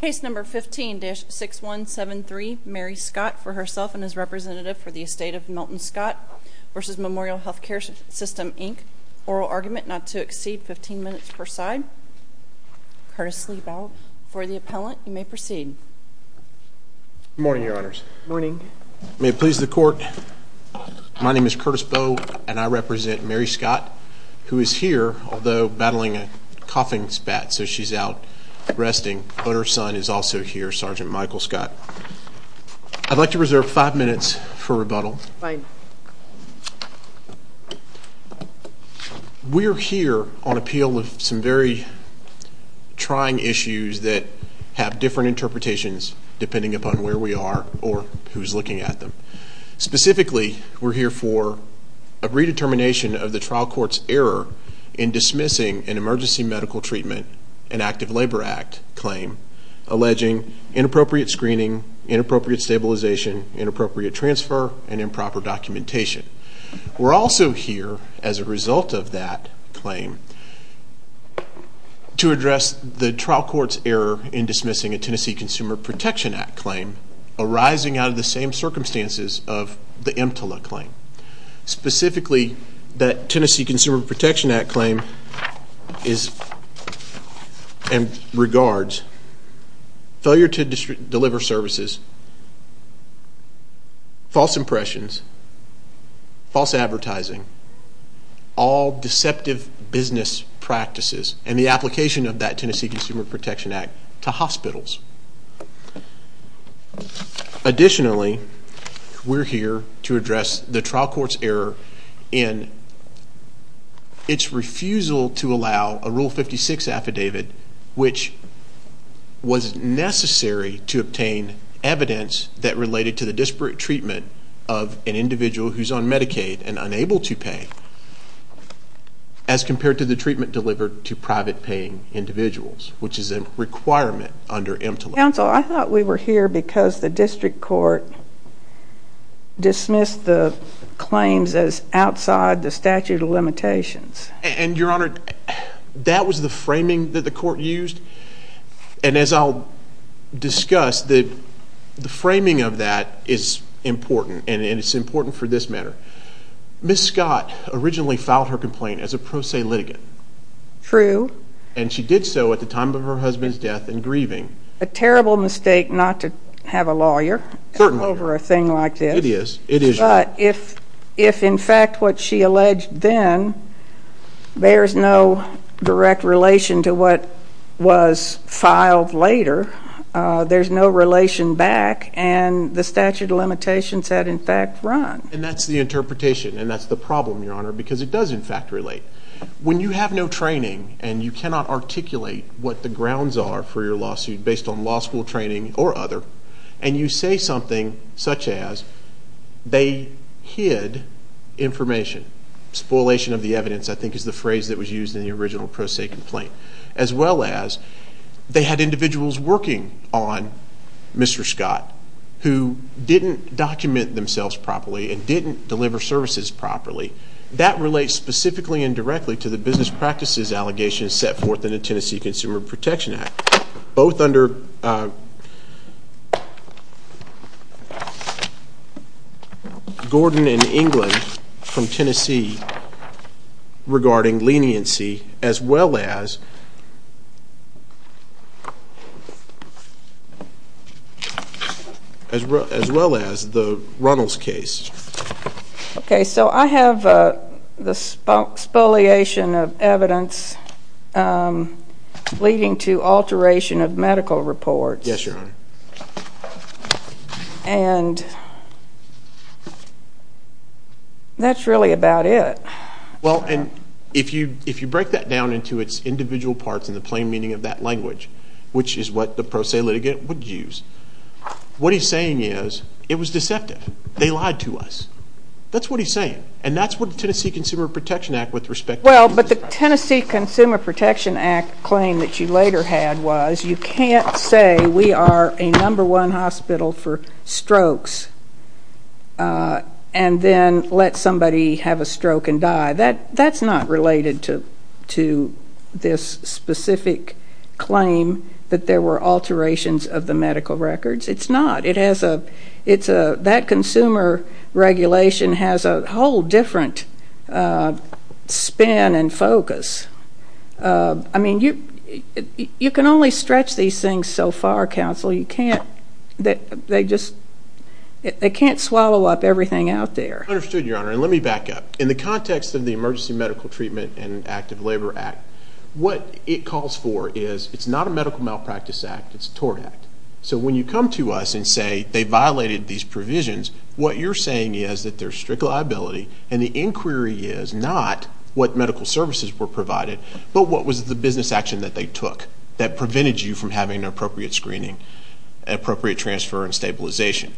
Case No. 15-6173, Mary Scott, for herself and as representative for the estate of Milton Scott v. Memorial Health Care System Inc. Oral argument not to exceed 15 minutes per side. Curtis Lee Bowe for the appellant. You may proceed. Good morning, Your Honors. Good morning. May it please the Court, my name is Curtis Bowe and I represent Mary Scott, who is here, although battling a coughing spat, so she's out resting. But her son is also here, Sgt. Michael Scott. I'd like to reserve five minutes for rebuttal. Fine. We're here on appeal with some very trying issues that have different interpretations, depending upon where we are or who's looking at them. Specifically, we're here for a redetermination of the trial court's error in dismissing an Emergency Medical Treatment and Active Labor Act claim alleging inappropriate screening, inappropriate stabilization, inappropriate transfer, and improper documentation. We're also here as a result of that claim to address the trial court's error in dismissing a Tennessee Consumer Protection Act claim arising out of the same circumstances of the EMTLA claim. Specifically, that Tennessee Consumer Protection Act claim regards failure to deliver services, false impressions, false advertising, all deceptive business practices, and the application of that Tennessee Consumer Protection Act to hospitals. Additionally, we're here to address the trial court's error in its refusal to allow a Rule 56 affidavit, which was necessary to obtain evidence that related to the disparate treatment of an individual who's on Medicaid and unable to pay as compared to the treatment delivered to private paying individuals, which is a requirement under EMTLA. Counsel, I thought we were here because the district court dismissed the claims as outside the statute of limitations. And, Your Honor, that was the framing that the court used. And as I'll discuss, the framing of that is important, and it's important for this matter. Ms. Scott originally filed her complaint as a pro se litigant. True. And she did so at the time of her husband's death and grieving. A terrible mistake not to have a lawyer over a thing like this. It is. It is. But if, in fact, what she alleged then bears no direct relation to what was filed later, there's no relation back, and the statute of limitations had, in fact, run. And that's the interpretation, and that's the problem, Your Honor, because it does, in fact, relate. When you have no training and you cannot articulate what the grounds are for your lawsuit based on law school training or other, and you say something such as, they hid information. Spoilation of the evidence, I think, is the phrase that was used in the original pro se complaint. As well as, they had individuals working on Mr. Scott who didn't document themselves properly and didn't deliver services properly. That relates specifically and directly to the business practices allegations set forth in the Tennessee Consumer Protection Act, both under Gordon and England from Tennessee regarding leniency, as well as the Runnels case. Okay, so I have the spoliation of evidence leading to alteration of medical reports. Yes, Your Honor. And that's really about it. Well, and if you break that down into its individual parts and the plain meaning of that language, which is what the pro se litigant would use, what he's saying is, it was deceptive. They lied to us. That's what he's saying. And that's what the Tennessee Consumer Protection Act with respect to business practices. Well, but the Tennessee Consumer Protection Act claim that you later had was, you can't say we are a number one hospital for strokes and then let somebody have a stroke and die. That's not related to this specific claim that there were alterations of the medical records. It's not. That consumer regulation has a whole different spin and focus. I mean, you can only stretch these things so far, counsel. You can't. They just can't swallow up everything out there. Understood, Your Honor. And let me back up. In the context of the Emergency Medical Treatment and Active Labor Act, what it calls for is, it's not a medical malpractice act. It's a tort act. So when you come to us and say they violated these provisions, what you're saying is that there's strict liability, and the inquiry is not what medical services were provided, but what was the business action that they took that prevented you from having an appropriate screening, appropriate transfer, and stabilization.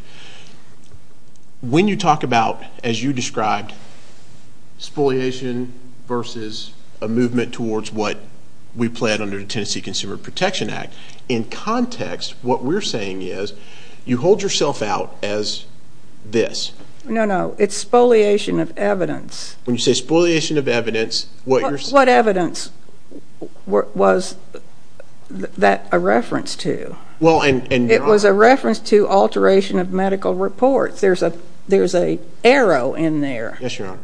When you talk about, as you described, spoliation versus a movement towards what we pled under the Tennessee Consumer Protection Act, in context, what we're saying is you hold yourself out as this. No, no. It's spoliation of evidence. When you say spoliation of evidence, what you're saying is... What evidence was that a reference to? Well, and, Your Honor... It was a reference to alteration of medical reports. There's an arrow in there. Yes, Your Honor,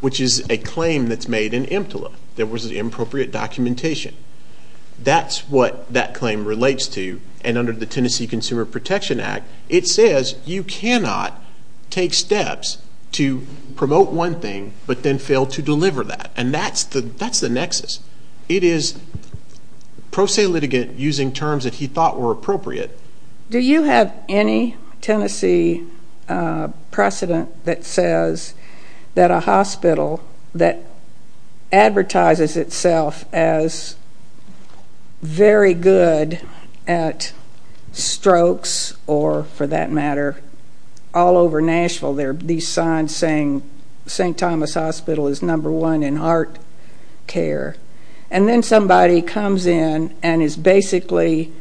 which is a claim that's made in EMTLA. There was an inappropriate documentation. That's what that claim relates to, and under the Tennessee Consumer Protection Act, it says you cannot take steps to promote one thing but then fail to deliver that, and that's the nexus. It is pro se litigant using terms that he thought were appropriate. Do you have any Tennessee precedent that says that a hospital that advertises itself as very good at strokes or, for that matter, all over Nashville, there are these signs saying St. Thomas Hospital is number one in heart care, and then somebody comes in and is basically,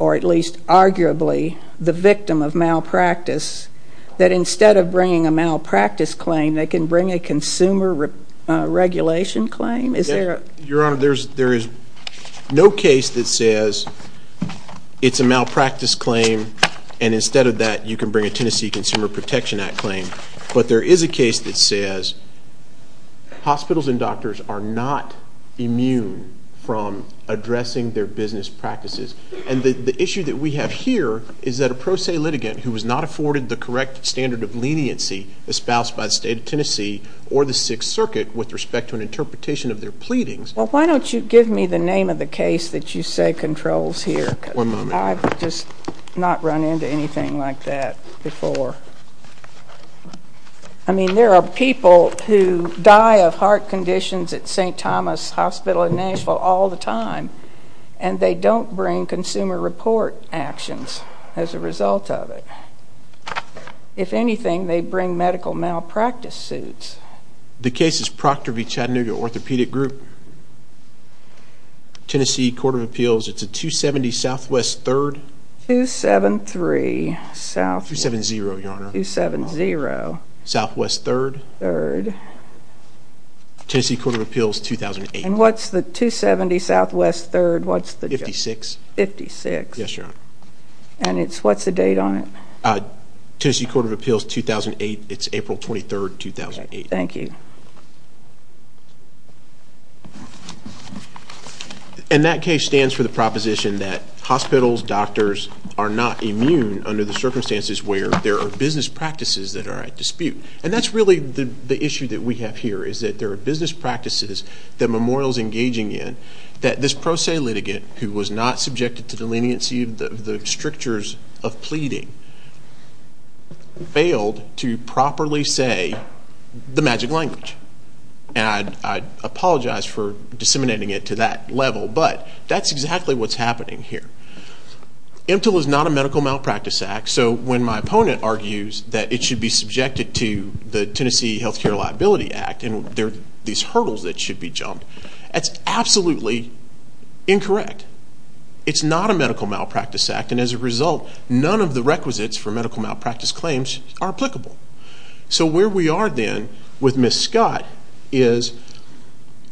or at least arguably, the victim of malpractice, that instead of bringing a malpractice claim, they can bring a consumer regulation claim? Your Honor, there is no case that says it's a malpractice claim and instead of that you can bring a Tennessee Consumer Protection Act claim, but there is a case that says hospitals and doctors are not immune from addressing their business practices, and the issue that we have here is that a pro se litigant who has not afforded the correct standard of leniency espoused by the State of Tennessee or the Sixth Circuit with respect to an interpretation of their pleadings. Well, why don't you give me the name of the case that you say controls here? One moment. I've just not run into anything like that before. I mean, there are people who die of heart conditions at St. Thomas Hospital in Nashville all the time, and they don't bring consumer report actions as a result of it. If anything, they bring medical malpractice suits. The case is Procter v. Chattanooga Orthopedic Group, Tennessee Court of Appeals. It's a 270 Southwest 3rd. 273. 270, Your Honor. 270. Southwest 3rd. 3rd. Tennessee Court of Appeals, 2008. And what's the 270 Southwest 3rd? 56. 56. Yes, Your Honor. And what's the date on it? Tennessee Court of Appeals, 2008. It's April 23, 2008. Thank you. And that case stands for the proposition that hospitals, doctors are not immune under the circumstances where there are business practices that are at dispute. And that's really the issue that we have here is that there are business practices that Memorial is engaging in that this pro se litigant who was not subjected to the leniency of the strictures of pleading failed to properly say the magic language. And I apologize for disseminating it to that level, but that's exactly what's happening here. MTIL is not a medical malpractice act. So when my opponent argues that it should be subjected to the Tennessee Healthcare Liability Act and there are these hurdles that should be jumped, that's absolutely incorrect. It's not a medical malpractice act. And as a result, none of the requisites for medical malpractice claims are applicable. So where we are then with Ms. Scott is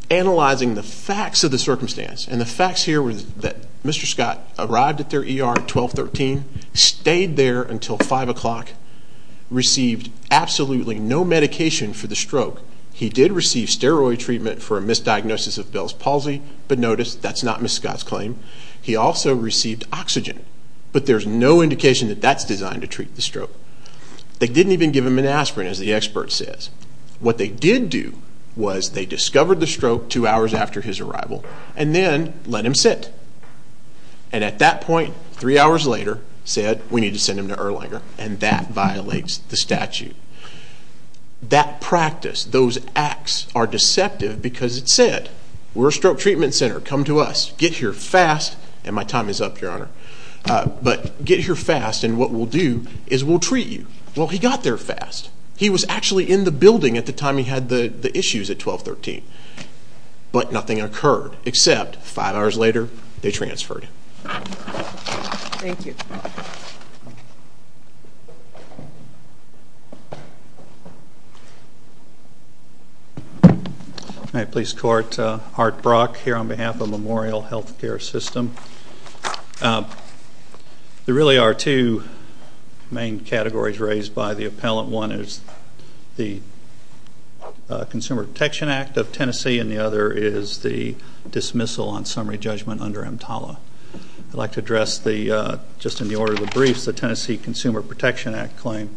analyzing the facts of the circumstance. And the facts here were that Mr. Scott arrived at their ER at 1213, stayed there until 5 o'clock, received absolutely no medication for the stroke. He did receive steroid treatment for a misdiagnosis of Bell's palsy, but notice that's not Ms. Scott's claim. He also received oxygen, but there's no indication that that's designed to treat the stroke. They didn't even give him an aspirin, as the expert says. What they did do was they discovered the stroke two hours after his arrival and then let him sit. And at that point, three hours later, said we need to send him to Erlanger, and that violates the statute. That practice, those acts, are deceptive because it said, we're a stroke treatment center. Come to us. Get here fast. And my time is up, Your Honor. But get here fast, and what we'll do is we'll treat you. Well, he got there fast. He was actually in the building at the time he had the issues at 1213, but nothing occurred except five hours later they transferred him. Thank you. Thank you. May I please court Art Brock here on behalf of Memorial Health Care System? There really are two main categories raised by the appellant. One is the Consumer Protection Act of Tennessee, and the other is the dismissal on summary judgment under EMTALA. I'd like to address just in the order of the briefs the Tennessee Consumer Protection Act claim.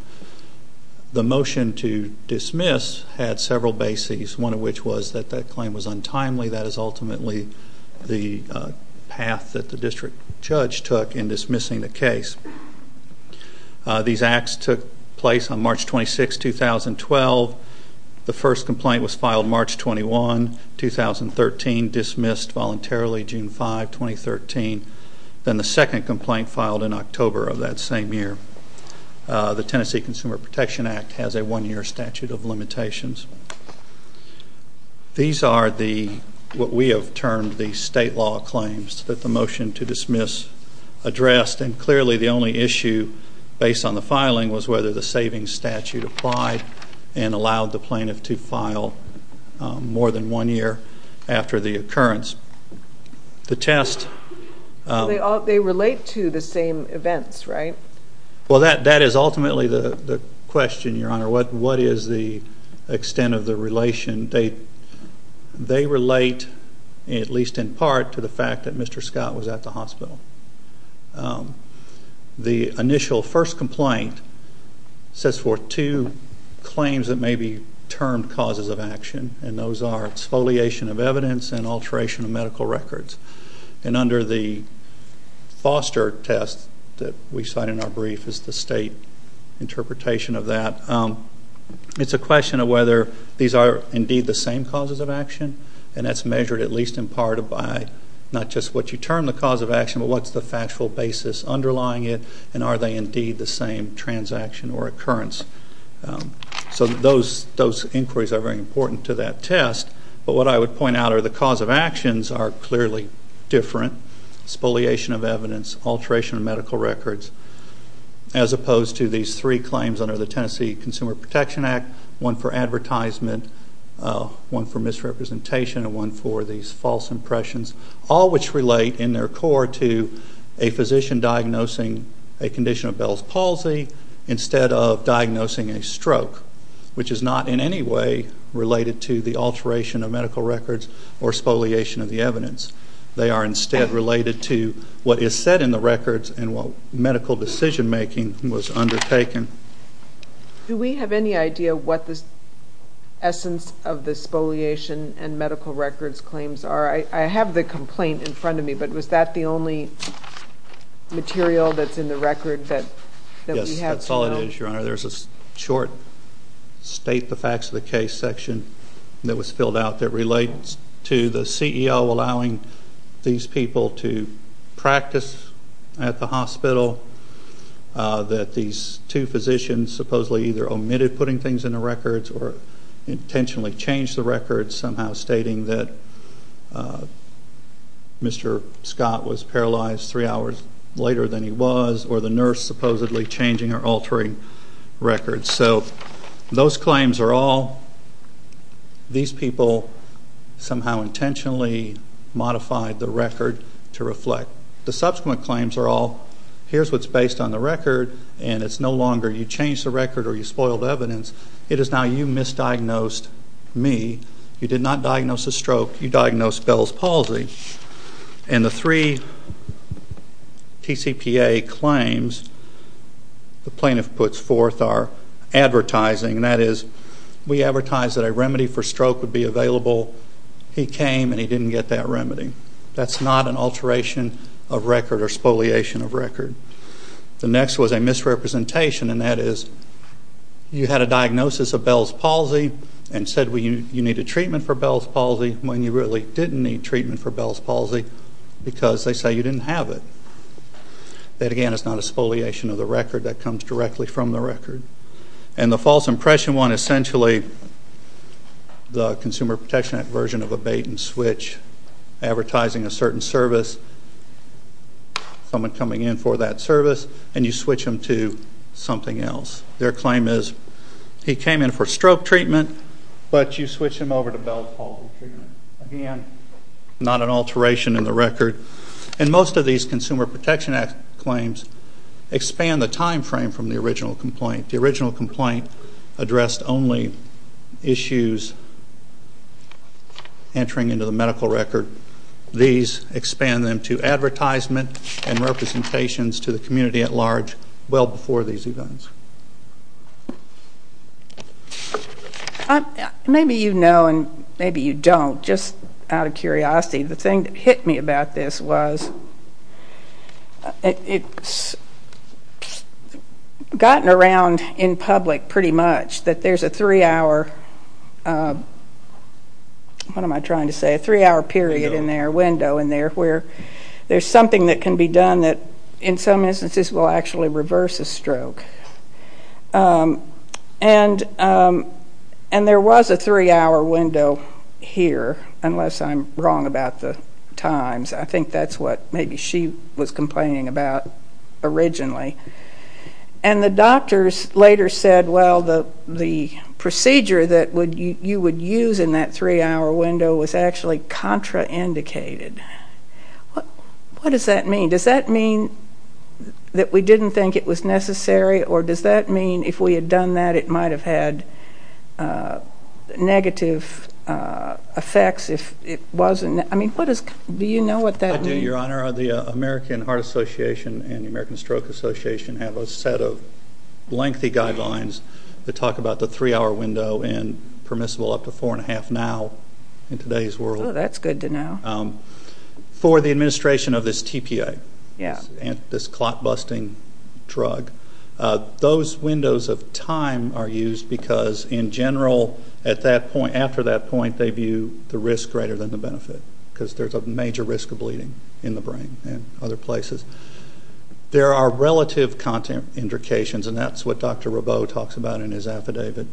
The motion to dismiss had several bases, one of which was that that claim was untimely. That is ultimately the path that the district judge took in dismissing the case. These acts took place on March 26, 2012. The first complaint was filed March 21, 2013, dismissed voluntarily June 5, 2013. Then the second complaint filed in October of that same year. The Tennessee Consumer Protection Act has a one-year statute of limitations. These are what we have termed the state law claims that the motion to dismiss addressed, and clearly the only issue based on the filing was whether the savings statute applied and allowed the plaintiff to file more than one year after the occurrence. They relate to the same events, right? That is ultimately the question, Your Honor. What is the extent of the relation? They relate, at least in part, to the fact that Mr. Scott was at the hospital. The initial first complaint sets forth two claims that may be termed causes of action, and those are exfoliation of evidence and alteration of medical records. Under the foster test that we cite in our brief is the state interpretation of that. It is a question of whether these are indeed the same causes of action, and that is measured at least in part by not just what you term the cause of action, but what is the factual basis underlying it, and are they indeed the same transaction or occurrence. So those inquiries are very important to that test, but what I would point out are the cause of actions are clearly different, exfoliation of evidence, alteration of medical records, as opposed to these three claims under the Tennessee Consumer Protection Act, one for advertisement, one for misrepresentation, and one for these false impressions, all which relate in their core to a physician diagnosing a condition of Bell's palsy instead of diagnosing a stroke, which is not in any way related to the alteration of medical records or exfoliation of the evidence. They are instead related to what is said in the records and what medical decision-making was undertaken. Do we have any idea what the essence of the exfoliation and medical records claims are? I have the complaint in front of me, but was that the only material that's in the record that we have? Yes, that's all it is, Your Honor. There's a short state the facts of the case section that was filled out that relates to the CEO allowing these people to practice at the hospital, that these two physicians supposedly either omitted putting things in the records or intentionally changed the records, somehow stating that Mr. Scott was paralyzed three hours later than he was or the nurse supposedly changing or altering records. So those claims are all these people somehow intentionally modified the record to reflect. The subsequent claims are all here's what's based on the record and it's no longer you changed the record or you spoiled the evidence. It is now you misdiagnosed me. You did not diagnose a stroke. You diagnosed Bell's palsy. And the three TCPA claims the plaintiff puts forth are advertising, and that is we advertise that a remedy for stroke would be available. He came and he didn't get that remedy. That's not an alteration of record or spoliation of record. The next was a misrepresentation, and that is you had a diagnosis of Bell's palsy and said you needed treatment for Bell's palsy when you really didn't need treatment for Bell's palsy because they say you didn't have it. That, again, is not a spoliation of the record. That comes directly from the record. And the false impression one, essentially, the Consumer Protection Act version of a bait-and-switch advertising a certain service, someone coming in for that service, and you switch them to something else. Their claim is he came in for stroke treatment, but you switch him over to Bell's palsy treatment. Again, not an alteration in the record. And most of these Consumer Protection Act claims expand the time frame from the original complaint. The original complaint addressed only issues entering into the medical record. These expand them to advertisement and representations to the community at large well before these events. Maybe you know and maybe you don't, just out of curiosity, the thing that hit me about this was it's gotten around in public pretty much that there's a three-hour, what am I trying to say, a three-hour period in there, window in there, where there's something that can be done that in some instances will actually reverse a stroke. And there was a three-hour window here, unless I'm wrong about the times. I think that's what maybe she was complaining about originally. And the doctors later said, well, the procedure that you would use in that three-hour window was actually contraindicated. What does that mean? Does that mean that we didn't think it was necessary, or does that mean if we had done that it might have had negative effects if it wasn't? I mean, do you know what that means? I do, Your Honor. The American Heart Association and the American Stroke Association have a set of lengthy guidelines that talk about the three-hour window and permissible up to four-and-a-half now in today's world. Oh, that's good to know. For the administration of this TPA, this clot-busting drug, those windows of time are used because, in general, at that point, after that point, why can't they view the risk greater than the benefit? Because there's a major risk of bleeding in the brain and other places. There are relative contraindications, and that's what Dr. Rabot talks about in his affidavit.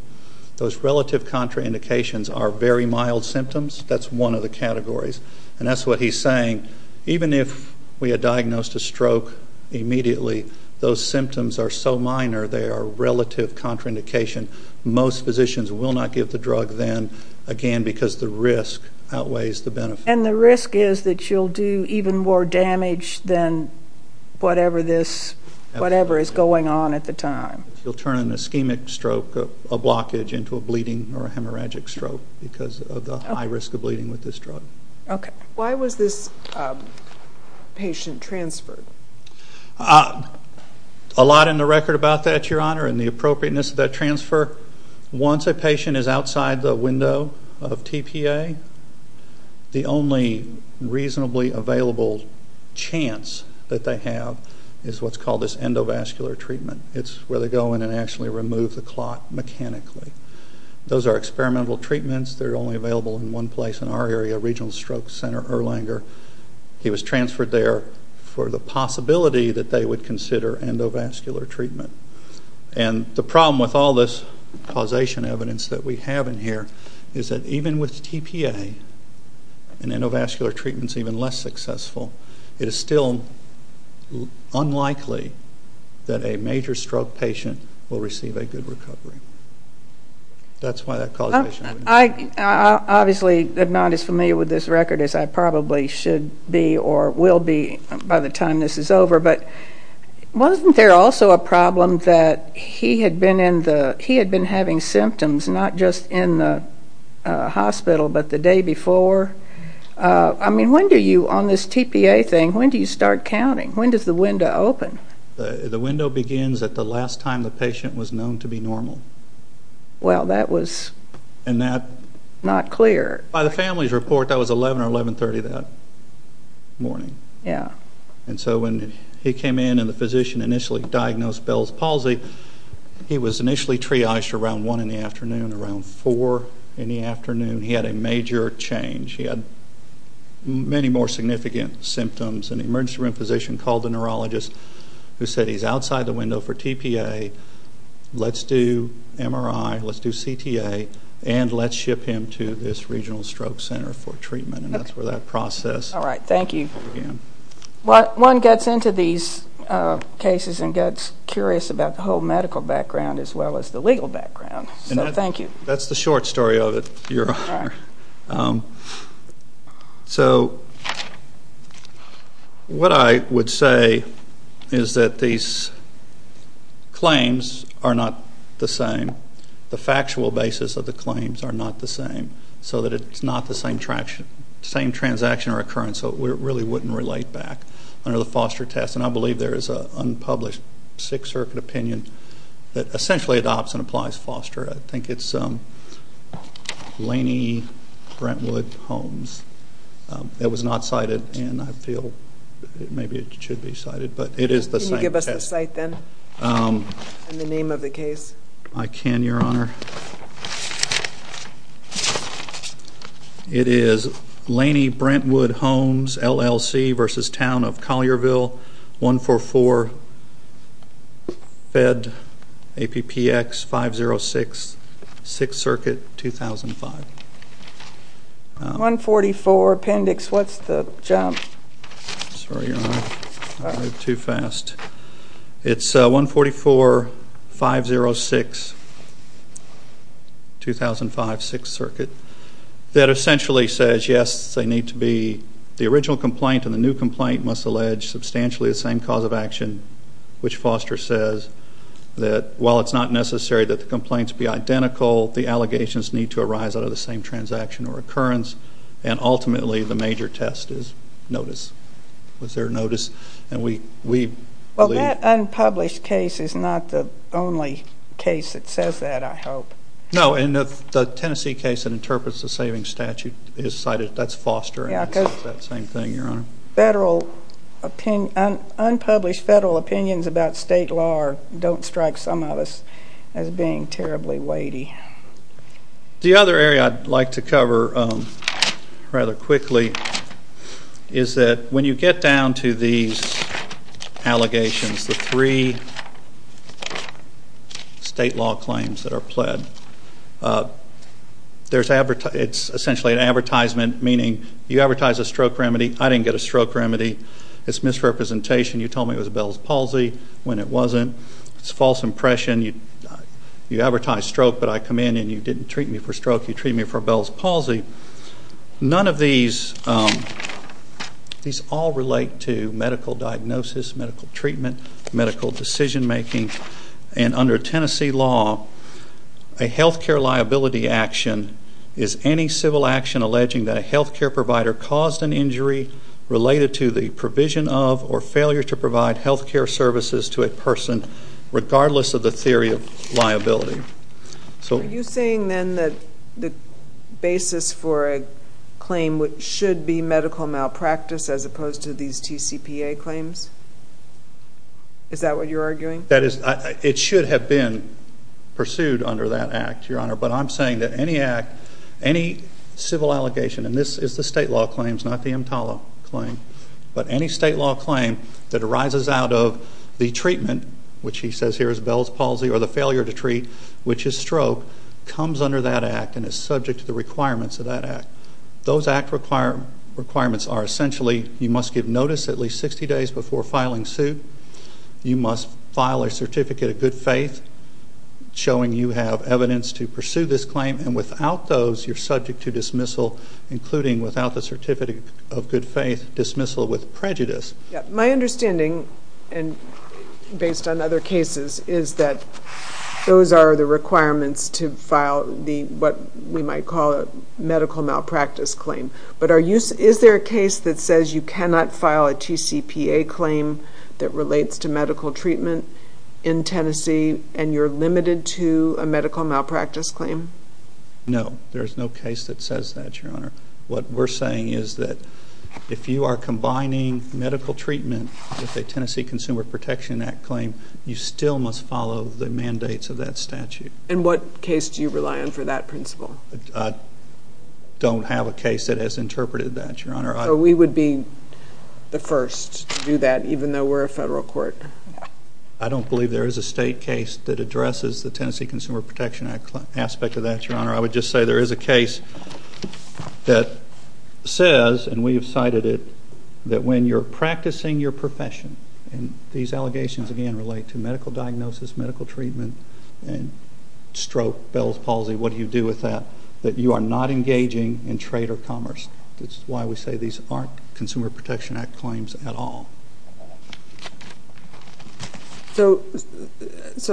Those relative contraindications are very mild symptoms. That's one of the categories. And that's what he's saying. Even if we had diagnosed a stroke immediately, those symptoms are so minor, they are relative contraindication. Most physicians will not give the drug then, again, because the risk outweighs the benefit. And the risk is that you'll do even more damage than whatever is going on at the time. You'll turn an ischemic stroke, a blockage, into a bleeding or a hemorrhagic stroke because of the high risk of bleeding with this drug. Okay. Why was this patient transferred? A lot in the record about that, Your Honor, and the appropriateness of that transfer. Once a patient is outside the window of TPA, the only reasonably available chance that they have is what's called this endovascular treatment. It's where they go in and actually remove the clot mechanically. Those are experimental treatments. They're only available in one place in our area, Regional Stroke Center Erlanger. He was transferred there for the possibility that they would consider endovascular treatment. And the problem with all this causation evidence that we have in here is that even with TPA and endovascular treatments even less successful, it is still unlikely that a major stroke patient will receive a good recovery. That's why that causation evidence. I obviously am not as familiar with this record as I probably should be or will be by the time this is over, but wasn't there also a problem that he had been having symptoms not just in the hospital but the day before? I mean, when do you, on this TPA thing, when do you start counting? When does the window open? The window begins at the last time the patient was known to be normal. Well, that was not clear. By the family's report, that was 11 or 11.30 that morning. Yeah. And so when he came in and the physician initially diagnosed Bell's palsy, he was initially triaged around 1 in the afternoon, around 4 in the afternoon. He had a major change. He had many more significant symptoms. An emergency room physician called the neurologist who said, he's outside the window for TPA, let's do MRI, let's do CTA, and let's ship him to this regional stroke center for treatment. And that's where that process began. All right. Thank you. One gets into these cases and gets curious about the whole medical background as well as the legal background. So thank you. That's the short story of it, Your Honor. So what I would say is that these claims are not the same. The factual basis of the claims are not the same, so that it's not the same transaction or occurrence, so it really wouldn't relate back under the Foster test. And I believe there is an unpublished Sixth Circuit opinion that essentially adopts and applies Foster. I think it's Laney Brentwood Holmes. It was not cited, and I feel maybe it should be cited. Can you give us the site then and the name of the case? I can, Your Honor. Thank you, Your Honor. It is Laney Brentwood Holmes, LLC, versus town of Collierville, 144, Fed, APPX 506, Sixth Circuit, 2005. 144, appendix, what's the jump? Sorry, Your Honor. I moved too fast. It's 144, 506, 2005, Sixth Circuit. That essentially says, yes, they need to be the original complaint and the new complaint must allege substantially the same cause of action, which Foster says that while it's not necessary that the complaints be identical, the allegations need to arise out of the same transaction or occurrence, and ultimately the major test is notice. Was there notice? Well, that unpublished case is not the only case that says that, I hope. No, and the Tennessee case that interprets the savings statute is cited. That's Foster and it says that same thing, Your Honor. Unpublished federal opinions about state law don't strike some of us as being terribly weighty. The other area I'd like to cover rather quickly is that when you get down to these allegations, the three state law claims that are pled, it's essentially an advertisement, meaning you advertise a stroke remedy. I didn't get a stroke remedy. It's misrepresentation. You told me it was Bell's Palsy when it wasn't. It's false impression. You advertise stroke, but I come in and you didn't treat me for stroke. You treat me for Bell's Palsy. None of these all relate to medical diagnosis, medical treatment, medical decision-making, and under Tennessee law, a health care liability action is any civil action alleging that a health care provider caused an injury related to the provision of or failure to provide health care services to a person, regardless of the theory of liability. Are you saying then that the basis for a claim should be medical malpractice as opposed to these TCPA claims? Is that what you're arguing? It should have been pursued under that act, Your Honor, but I'm saying that any act, any civil allegation, and this is the state law claims, not the EMTALA claim, but any state law claim that arises out of the treatment, which he says here is Bell's Palsy, or the failure to treat, which is stroke, comes under that act and is subject to the requirements of that act. Those act requirements are essentially you must give notice at least 60 days before filing suit. You must file a certificate of good faith showing you have evidence to pursue this claim, and without those, you're subject to dismissal, including, without the certificate of good faith, dismissal with prejudice. My understanding, based on other cases, is that those are the requirements to file what we might call a medical malpractice claim, but is there a case that says you cannot file a TCPA claim that relates to medical treatment in Tennessee and you're limited to a medical malpractice claim? No, there's no case that says that, Your Honor. What we're saying is that if you are combining medical treatment with a Tennessee Consumer Protection Act claim, you still must follow the mandates of that statute. And what case do you rely on for that principle? I don't have a case that has interpreted that, Your Honor. So we would be the first to do that, even though we're a federal court? I don't believe there is a state case that addresses the Tennessee Consumer Protection Act aspect of that, Your Honor. I would just say there is a case that says, and we have cited it, that when you're practicing your profession, and these allegations, again, relate to medical diagnosis, medical treatment, and stroke, Bell's palsy, what do you do with that, that you are not engaging in trade or commerce. That's why we say these aren't Consumer Protection Act claims at all. So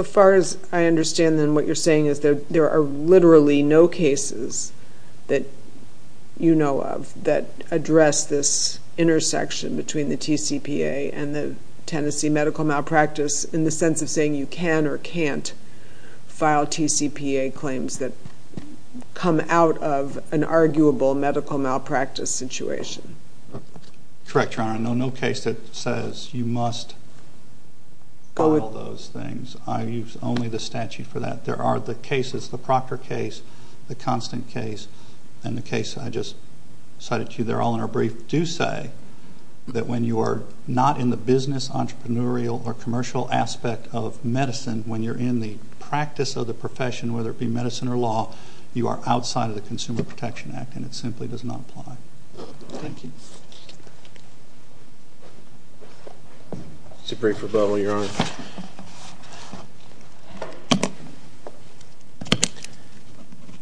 far as I understand, then, what you're saying is that there are literally no cases that you know of that address this intersection between the TCPA and the Tennessee medical malpractice in the sense of saying you can or can't file TCPA claims that come out of an arguable medical malpractice situation. Correct, Your Honor. No case that says you must follow those things. I use only the statute for that. There are the cases, the Proctor case, the Constant case, and the case I just cited to you there all in our brief, do say that when you are not in the business, entrepreneurial, or commercial aspect of medicine, when you're in the practice of the profession, whether it be medicine or law, you are outside of the Consumer Protection Act, and it simply does not apply. Thank you. This is a brief rebuttal, Your Honor.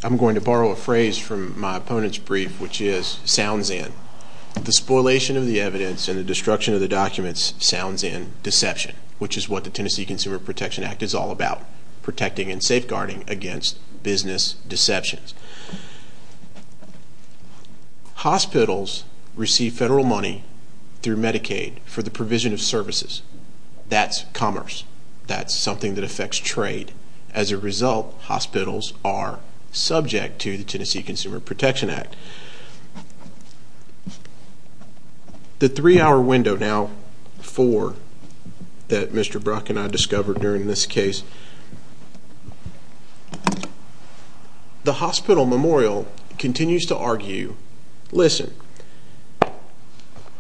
I'm going to borrow a phrase from my opponent's brief, which is, sounds in. The spoilation of the evidence and the destruction of the documents sounds in deception, which is what the Tennessee Consumer Protection Act is all about, protecting and safeguarding against business deceptions. Hospitals receive federal money through Medicaid for the provision of services. That's commerce. That's something that affects trade. As a result, hospitals are subject to the Tennessee Consumer Protection Act. The three-hour window now, four, that Mr. Brock and I discovered during this case, the hospital memorial continues to argue, listen,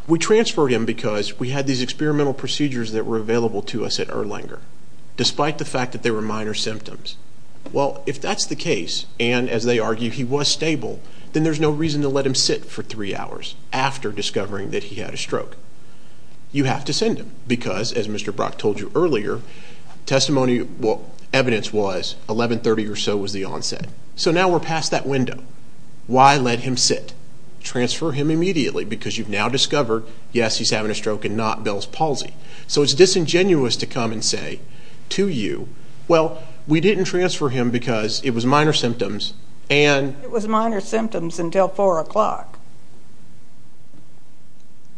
we transferred him because we had these experimental procedures that were available to us at Erlanger, despite the fact that they were minor symptoms. Well, if that's the case and, as they argue, he was stable, then there's no reason to let him sit for three hours after discovering that he had a stroke. You have to send him because, as Mr. Brock told you earlier, testimony evidence was 1130 or so was the onset. So now we're past that window. Why let him sit? Transfer him immediately because you've now discovered, yes, he's having a stroke and not Bell's palsy. So it's disingenuous to come and say to you, well, we didn't transfer him because it was minor symptoms. It was minor symptoms until 4 o'clock.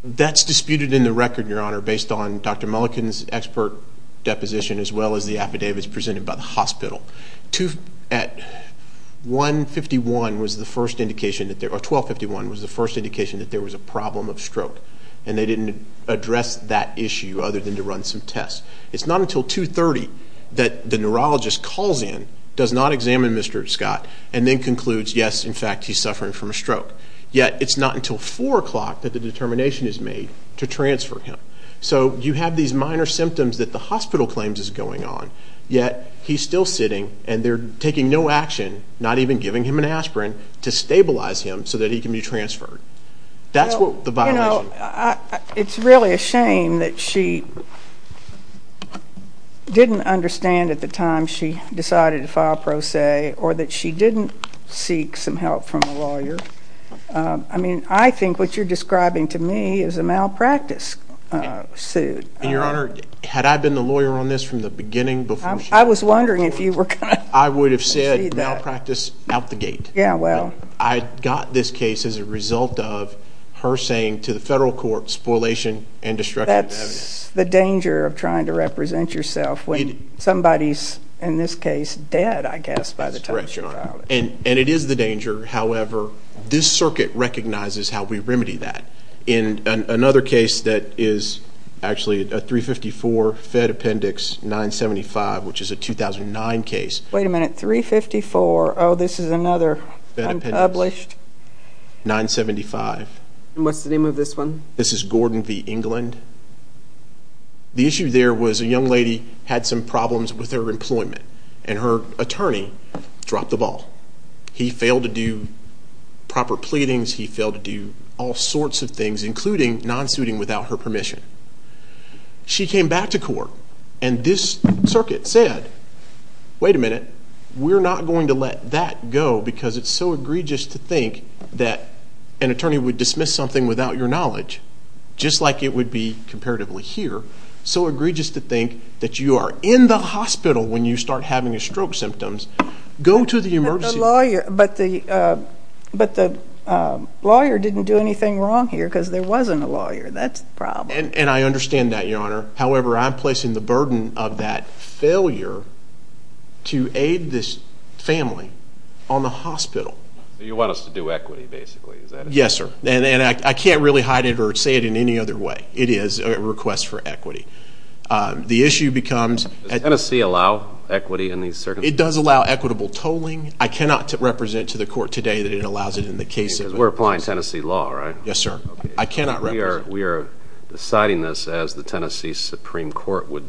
That's disputed in the record, Your Honor, based on Dr. Mulliken's expert deposition as well as the affidavits presented by the hospital. 1251 was the first indication that there was a problem of stroke, and they didn't address that issue other than to run some tests. It's not until 230 that the neurologist calls in, does not examine Mr. Scott, and then concludes, yes, in fact, he's suffering from a stroke. Yet it's not until 4 o'clock that the determination is made to transfer him. So you have these minor symptoms that the hospital claims is going on, yet he's still sitting and they're taking no action, not even giving him an aspirin, to stabilize him so that he can be transferred. That's the violation. It's really a shame that she didn't understand at the time she decided to file pro se or that she didn't seek some help from a lawyer. I mean, I think what you're describing to me is a malpractice suit. And, Your Honor, had I been the lawyer on this from the beginning before she filed the lawsuit, I would have said malpractice out the gate. I got this case as a result of her saying to the federal court, spoliation and destruction of evidence. That's the danger of trying to represent yourself when somebody's, in this case, dead, I guess, by the time she filed it. And it is the danger. However, this circuit recognizes how we remedy that. In another case that is actually a 354 Fed Appendix 975, which is a 2009 case. Wait a minute, 354. Oh, this is another unpublished. 975. What's the name of this one? This is Gordon v. England. The issue there was a young lady had some problems with her employment, and her attorney dropped the ball. He failed to do proper pleadings. He failed to do all sorts of things, including non-suiting without her permission. She came back to court, and this circuit said, wait a minute, we're not going to let that go because it's so egregious to think that an attorney would dismiss something without your knowledge, just like it would be comparatively here, so egregious to think that you are in the hospital when you start having your stroke symptoms. Go to the emergency room. But the lawyer didn't do anything wrong here because there wasn't a lawyer. That's the problem. And I understand that, Your Honor. However, I'm placing the burden of that failure to aid this family on the hospital. So you want us to do equity, basically, is that it? Yes, sir. And I can't really hide it or say it in any other way. It is a request for equity. Does Tennessee allow equity in these circumstances? It does allow equitable tolling. I cannot represent to the court today that it allows it in the case. Because we're applying Tennessee law, right? Yes, sir. I cannot represent. We are deciding this as the Tennessee Supreme Court would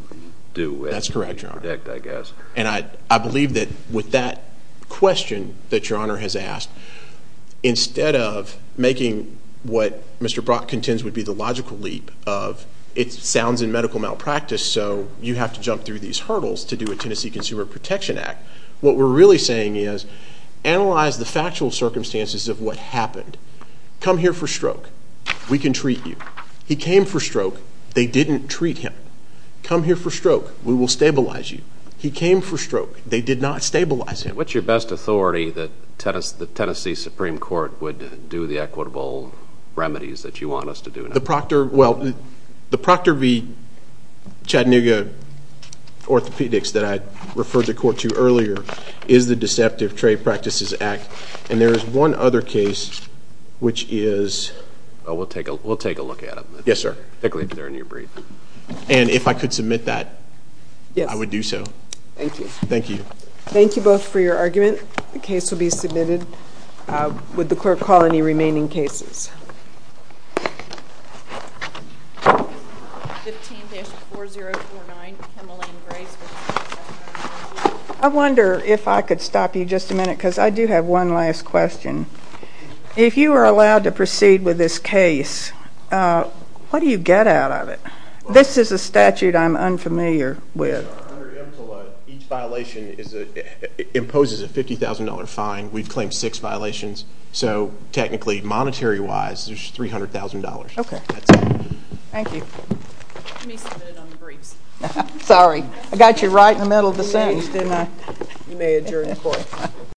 do. That's correct, Your Honor. And I believe that with that question that Your Honor has asked, instead of making what Mr. Brock contends would be the logical leap of, it sounds in medical malpractice, so you have to jump through these hurdles to do a Tennessee Consumer Protection Act. What we're really saying is analyze the factual circumstances of what happened. Come here for stroke. We can treat you. He came for stroke. They didn't treat him. Come here for stroke. We will stabilize you. He came for stroke. They did not stabilize him. What's your best authority that the Tennessee Supreme Court would do the equitable remedies that you want us to do now? The Proctor v. Chattanooga orthopedics that I referred the court to earlier is the Deceptive Trade Practices Act. And there is one other case which is... We'll take a look at it. Yes, sir. And if I could submit that, I would do so. Thank you. Thank you both for your argument. The case will be submitted. Would the clerk call any remaining cases? I wonder if I could stop you just a minute because I do have one last question. If you are allowed to proceed with this case, what do you get out of it? This is a statute I'm unfamiliar with. Each violation imposes a $50,000 fine. We've claimed six violations. So technically, monetary-wise, there's $300,000. Okay. Thank you. Let me submit it on the briefs. Sorry. I got you right in the middle of the sentence, didn't I? You may adjourn the court.